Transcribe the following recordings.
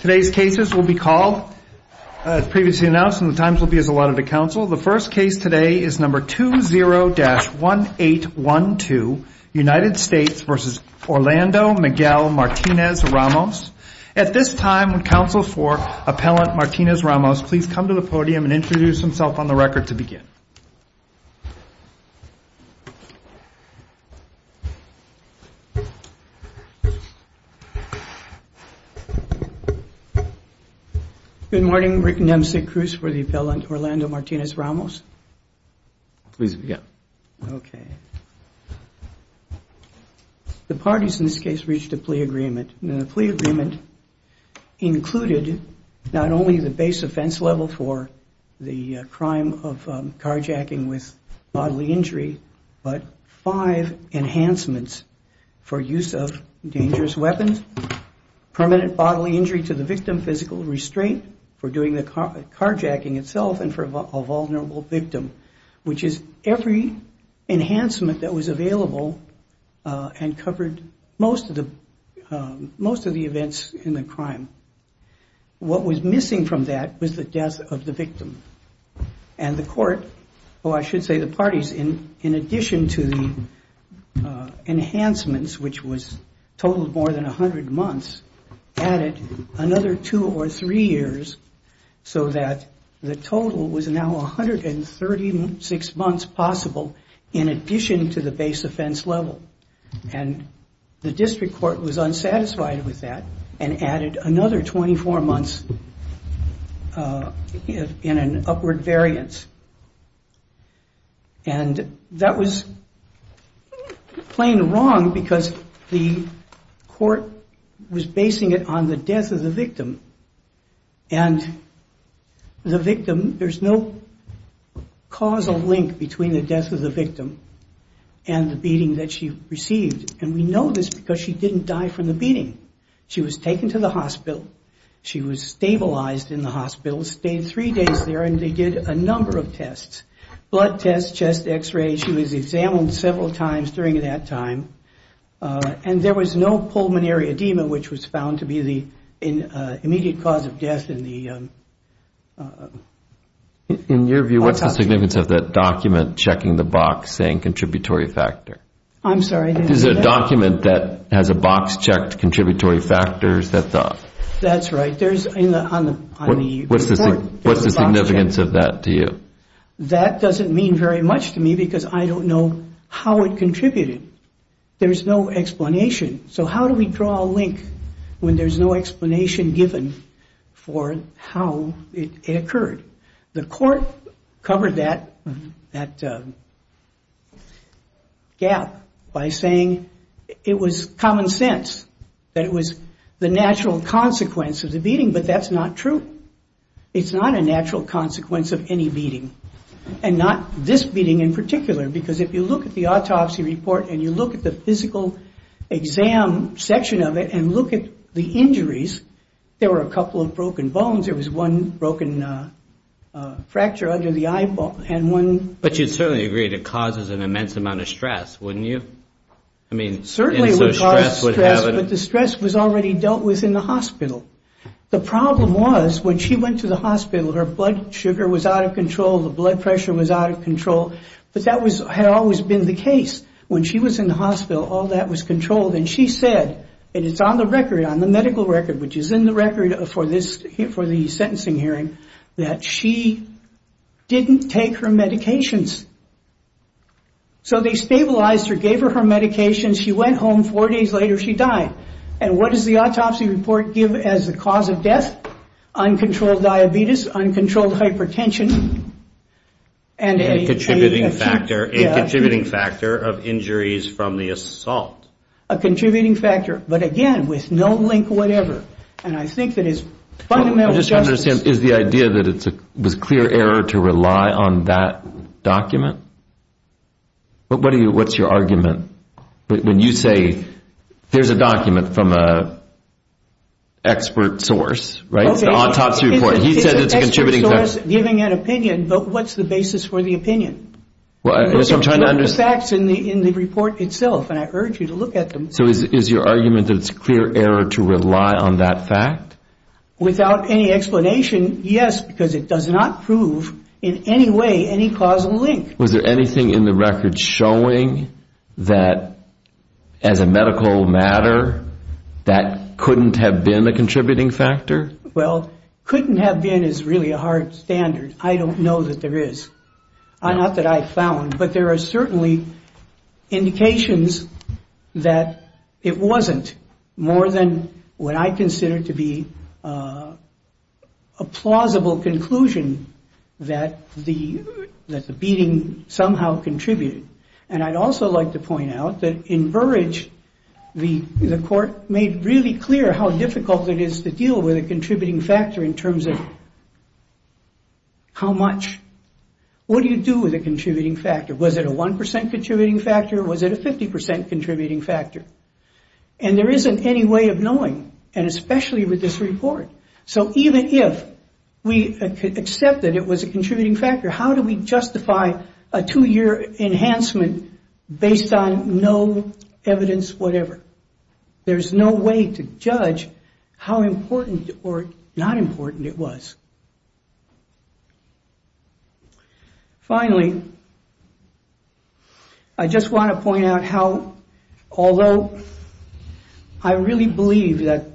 Today's cases will be called, as previously announced, and the times will be as allotted to counsel. The first case today is number 20-1812, United States v. Orlando Miguel Martinez-Ramos. At this time, would counsel for Appellant Martinez-Ramos please come to the podium and introduce himself on the record to begin. Good morning, Rick Nemcic-Cruz for the Appellant Orlando Martinez-Ramos. Please begin. Okay. The parties in this case reached a plea agreement, and the plea agreement included not only the case offense level for the crime of carjacking with bodily injury, but five enhancements for use of dangerous weapons, permanent bodily injury to the victim, physical restraint for doing the carjacking itself, and for a vulnerable victim, which is every enhancement that was available and covered most of the events in the crime. What was missing from that was the death of the victim, and the court, or I should say the parties, in addition to the enhancements, which totaled more than 100 months, added another two or three years so that the total was now 136 months possible in addition to the base offense level. And the district court was unsatisfied with that and added another 24 months in an upward variance. And that was plain wrong because the court was basing it on the death of the victim. And the victim, there's no causal link between the death of the victim and the beating that she received. And we know this because she didn't die from the beating. She was taken to the hospital. She was stabilized in the hospital, stayed three days there, and they did a number of Blood tests, chest x-rays, she was examined several times during that time. And there was no pulmonary edema, which was found to be the immediate cause of death in the carjacking. In your view, what's the significance of that document checking the box saying contributory factor? I'm sorry, I didn't hear that. Is it a document that has a box checked contributory factors? That's right. There's on the report. What's the significance of that to you? That doesn't mean very much to me because I don't know how it contributed. There's no explanation. So how do we draw a link when there's no explanation given for how it occurred? The court covered that gap by saying it was common sense, that it was the natural consequence of the beating, but that's not true. It's not a natural consequence of any beating, and not this beating in particular. Because if you look at the autopsy report and you look at the physical exam section of it and look at the injuries, there were a couple of broken bones. There was one broken fracture under the eyeball. But you'd certainly agree it causes an immense amount of stress, wouldn't you? Certainly it would cause stress, but the stress was already dealt with in the hospital. The problem was when she went to the hospital, her blood sugar was out of control, the blood pressure was out of control, but that had always been the case. When she was in the hospital, all that was controlled, and she said, and it's on the medical record, which is in the record for the sentencing hearing, that she didn't take her medications. So they stabilized her, gave her her medications, she went home, four days later she died. And what does the autopsy report give as the cause of death? Uncontrolled diabetes, uncontrolled hypertension, and a contributing factor of injuries from the assault. A contributing factor, but again, with no link whatever. And I think that is fundamental justice. Is the idea that it was clear error to rely on that document? What's your argument? When you say there's a document from an expert source, the autopsy report, he said it's a contributing factor. It's an expert source giving an opinion, but what's the basis for the opinion? The facts in the report itself, and I urge you to look at them. So is your argument that it's clear error to rely on that fact? Without any explanation, yes, because it does not prove in any way any causal link. Was there anything in the record showing that as a medical matter, that couldn't have been a contributing factor? Well, couldn't have been is really a hard standard. I don't know that there is. Not that I found, but there are certainly indications that it wasn't more than what I consider to be a plausible conclusion that the beating somehow contributed. And I'd also like to point out that in Burrage, the court made really clear how difficult it is to deal with a contributing factor in terms of how much. What do you do with a contributing factor? Was it a 1% contributing factor? Was it a 50% contributing factor? And there isn't any way of knowing, and especially with this report. So even if we accept that it was a contributing factor, how do we justify a two-year enhancement based on no evidence whatever? There's no way to judge how important or not important it was. Finally, I just want to point out how, although I really believe that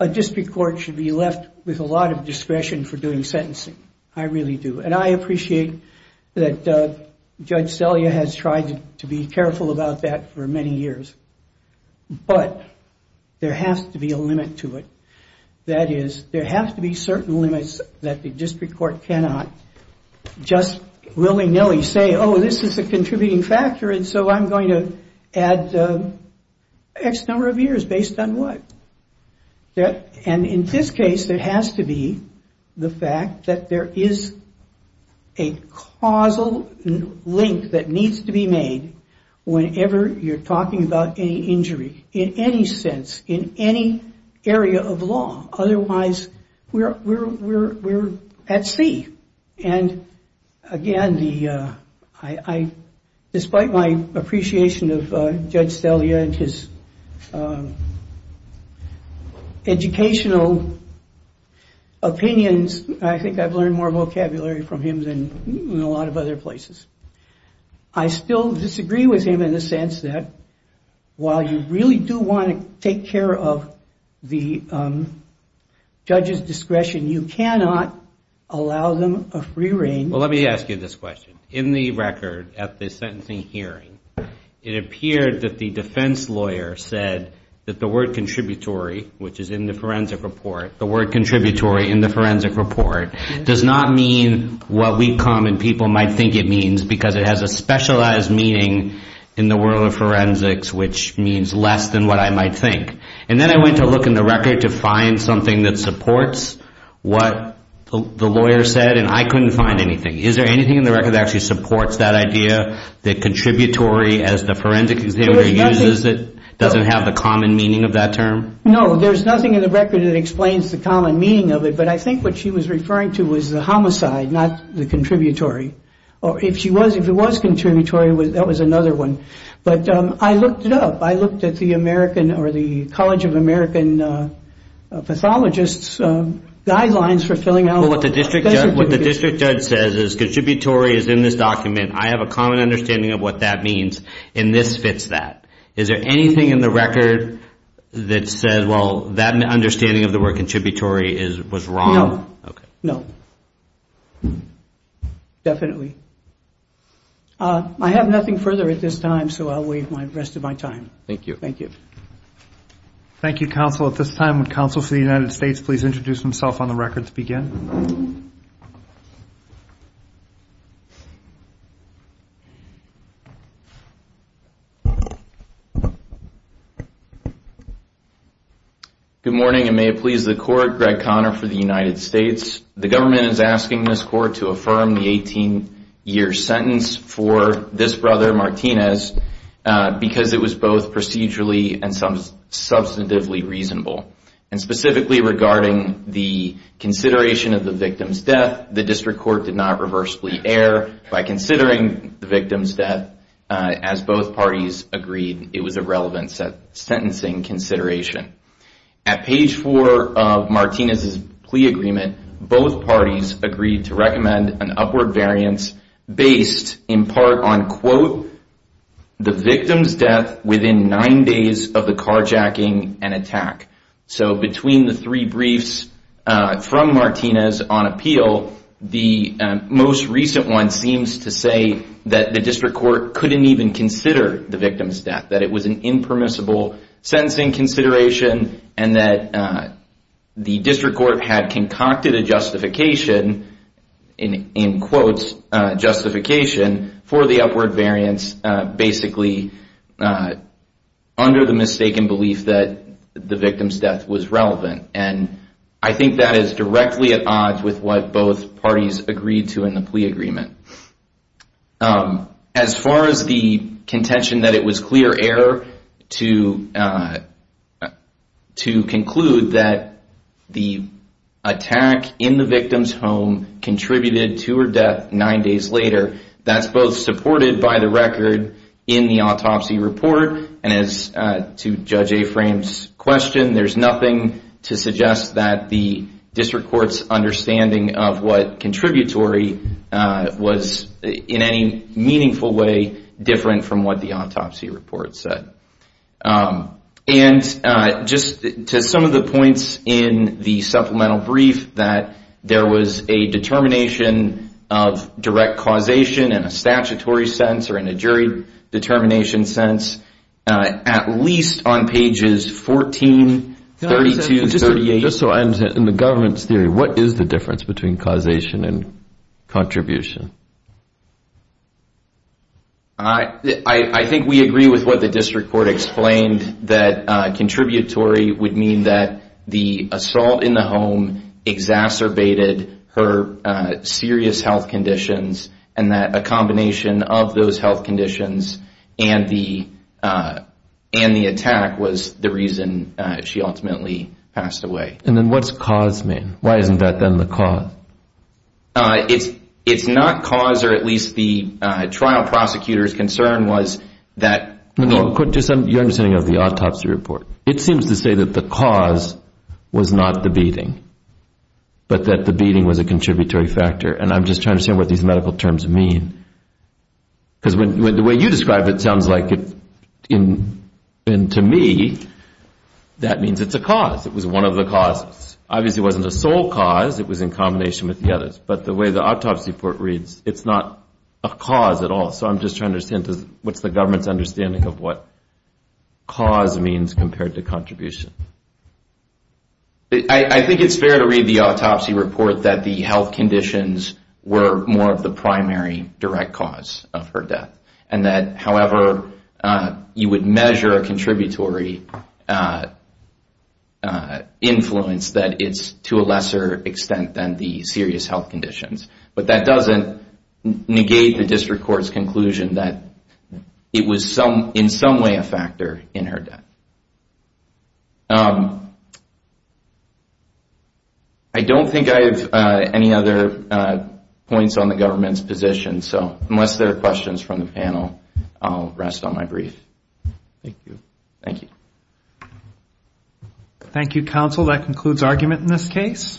a district court should be left with a lot of discretion for doing sentencing, I really do. And I appreciate that Judge Celia has tried to be careful about that for many years. But there has to be a limit to it. That is, there has to be certain limits that the district court cannot just willy-nilly say, oh, this is a contributing factor, and so I'm going to add X number of years based on what? And in this case, there has to be the fact that there is a causal link that needs to be made whenever you're talking about any injury in any sense, in any area of law. Otherwise, we're at sea. And again, despite my appreciation of Judge Celia and his educational opinions, I think I've learned more vocabulary from him than a lot of other places. I still disagree with him in the sense that while you really do want to take care of the judge's discretion, you cannot allow them a free rein. Well, let me ask you this question. In the record at the sentencing hearing, it appeared that the defense lawyer said that the word contributory, which is in the forensic report, the word contributory in the forensic report, does not mean what we common people might think it means because it has a specialized meaning in the world of forensics, which means less than what I might think. And then I went to look in the record to find something that supports what the lawyer said, and I couldn't find anything. Is there anything in the record that actually supports that idea, that contributory as the forensic examiner uses it doesn't have the common meaning of that term? No, there's nothing in the record that explains the common meaning of it. But I think what she was referring to was the homicide, not the contributory. Or if she was, if it was contributory, that was another one. But I looked it up. I looked at the American or the College of American Pathologists' guidelines for filling out. Well, what the district judge says is contributory is in this document. I have a common understanding of what that means, and this fits that. Is there anything in the record that says, well, that understanding of the word contributory was wrong? No, no. Definitely. I have nothing further at this time, so I'll waive the rest of my time. Thank you. Thank you. Thank you, counsel. At this time, would counsel for the United States please introduce himself on the record to begin? Good morning, and may it please the court. Greg Conner for the United States. The government is asking this court to affirm the 18-year sentence for this brother, Martinez, because it was both procedurally and substantively reasonable. And specifically regarding the consideration of the victim's death, the district court did not reversibly err by considering the victim's death. As both parties agreed, it was a relevant sentencing consideration. At page four of Martinez's plea agreement, both parties agreed to recommend an upward variance based in part on, quote, the victim's death within nine days of the carjacking and attack. So between the three briefs from Martinez on appeal, the most recent one seems to say that the district court couldn't even consider the victim's death, that it was an impermissible sentencing consideration, and that the district court had concocted a justification, in quotes, justification for the upward variance basically under the mistaken belief that the victim's death was relevant. And I think that is directly at odds with what both parties agreed to in the plea agreement. As far as the contention that it was clear error to conclude that the attack in the victim's home contributed to her death nine days later, that's both supported by the record in the autopsy report, and as to Judge Afram's question, there's nothing to suggest that the district court's understanding of what contributory was in any meaningful way different from what the autopsy report said. And just to some of the points in the supplemental brief that there was a determination of direct causation in a statutory sense or in a jury determination sense, at least on pages 14, 32, 38. In the government's theory, what is the difference between causation and contribution? I think we agree with what the district court explained, that contributory would mean that the assault in the home exacerbated her serious health conditions, and that a combination of those health conditions and the attack was the reason she ultimately passed away. And then what's cause mean? Why isn't that then the cause? It's not cause, or at least the trial prosecutor's concern was that- Your understanding of the autopsy report, it seems to say that the cause was not the beating, but that the beating was a contributory factor. And I'm just trying to say what these medical terms mean, because the way you describe it sounds like, to me, that means it's a cause. It was one of the causes. Obviously, it wasn't a sole cause. It was in combination with the others. But the way the autopsy report reads, it's not a cause at all. So I'm just trying to understand, what's the government's understanding of what cause means compared to contribution? I think it's fair to read the autopsy report that the health conditions were more of the primary direct cause of her death. And that, however, you would measure a contributory influence, that it's to a lesser extent than the serious health conditions. But that doesn't negate the district court's conclusion that it was in some way a factor in her death. I don't think I have any other points on the government's position, so unless there are questions from the panel, I'll rest on my brief. Thank you. Thank you. Thank you, counsel. That concludes argument in this case.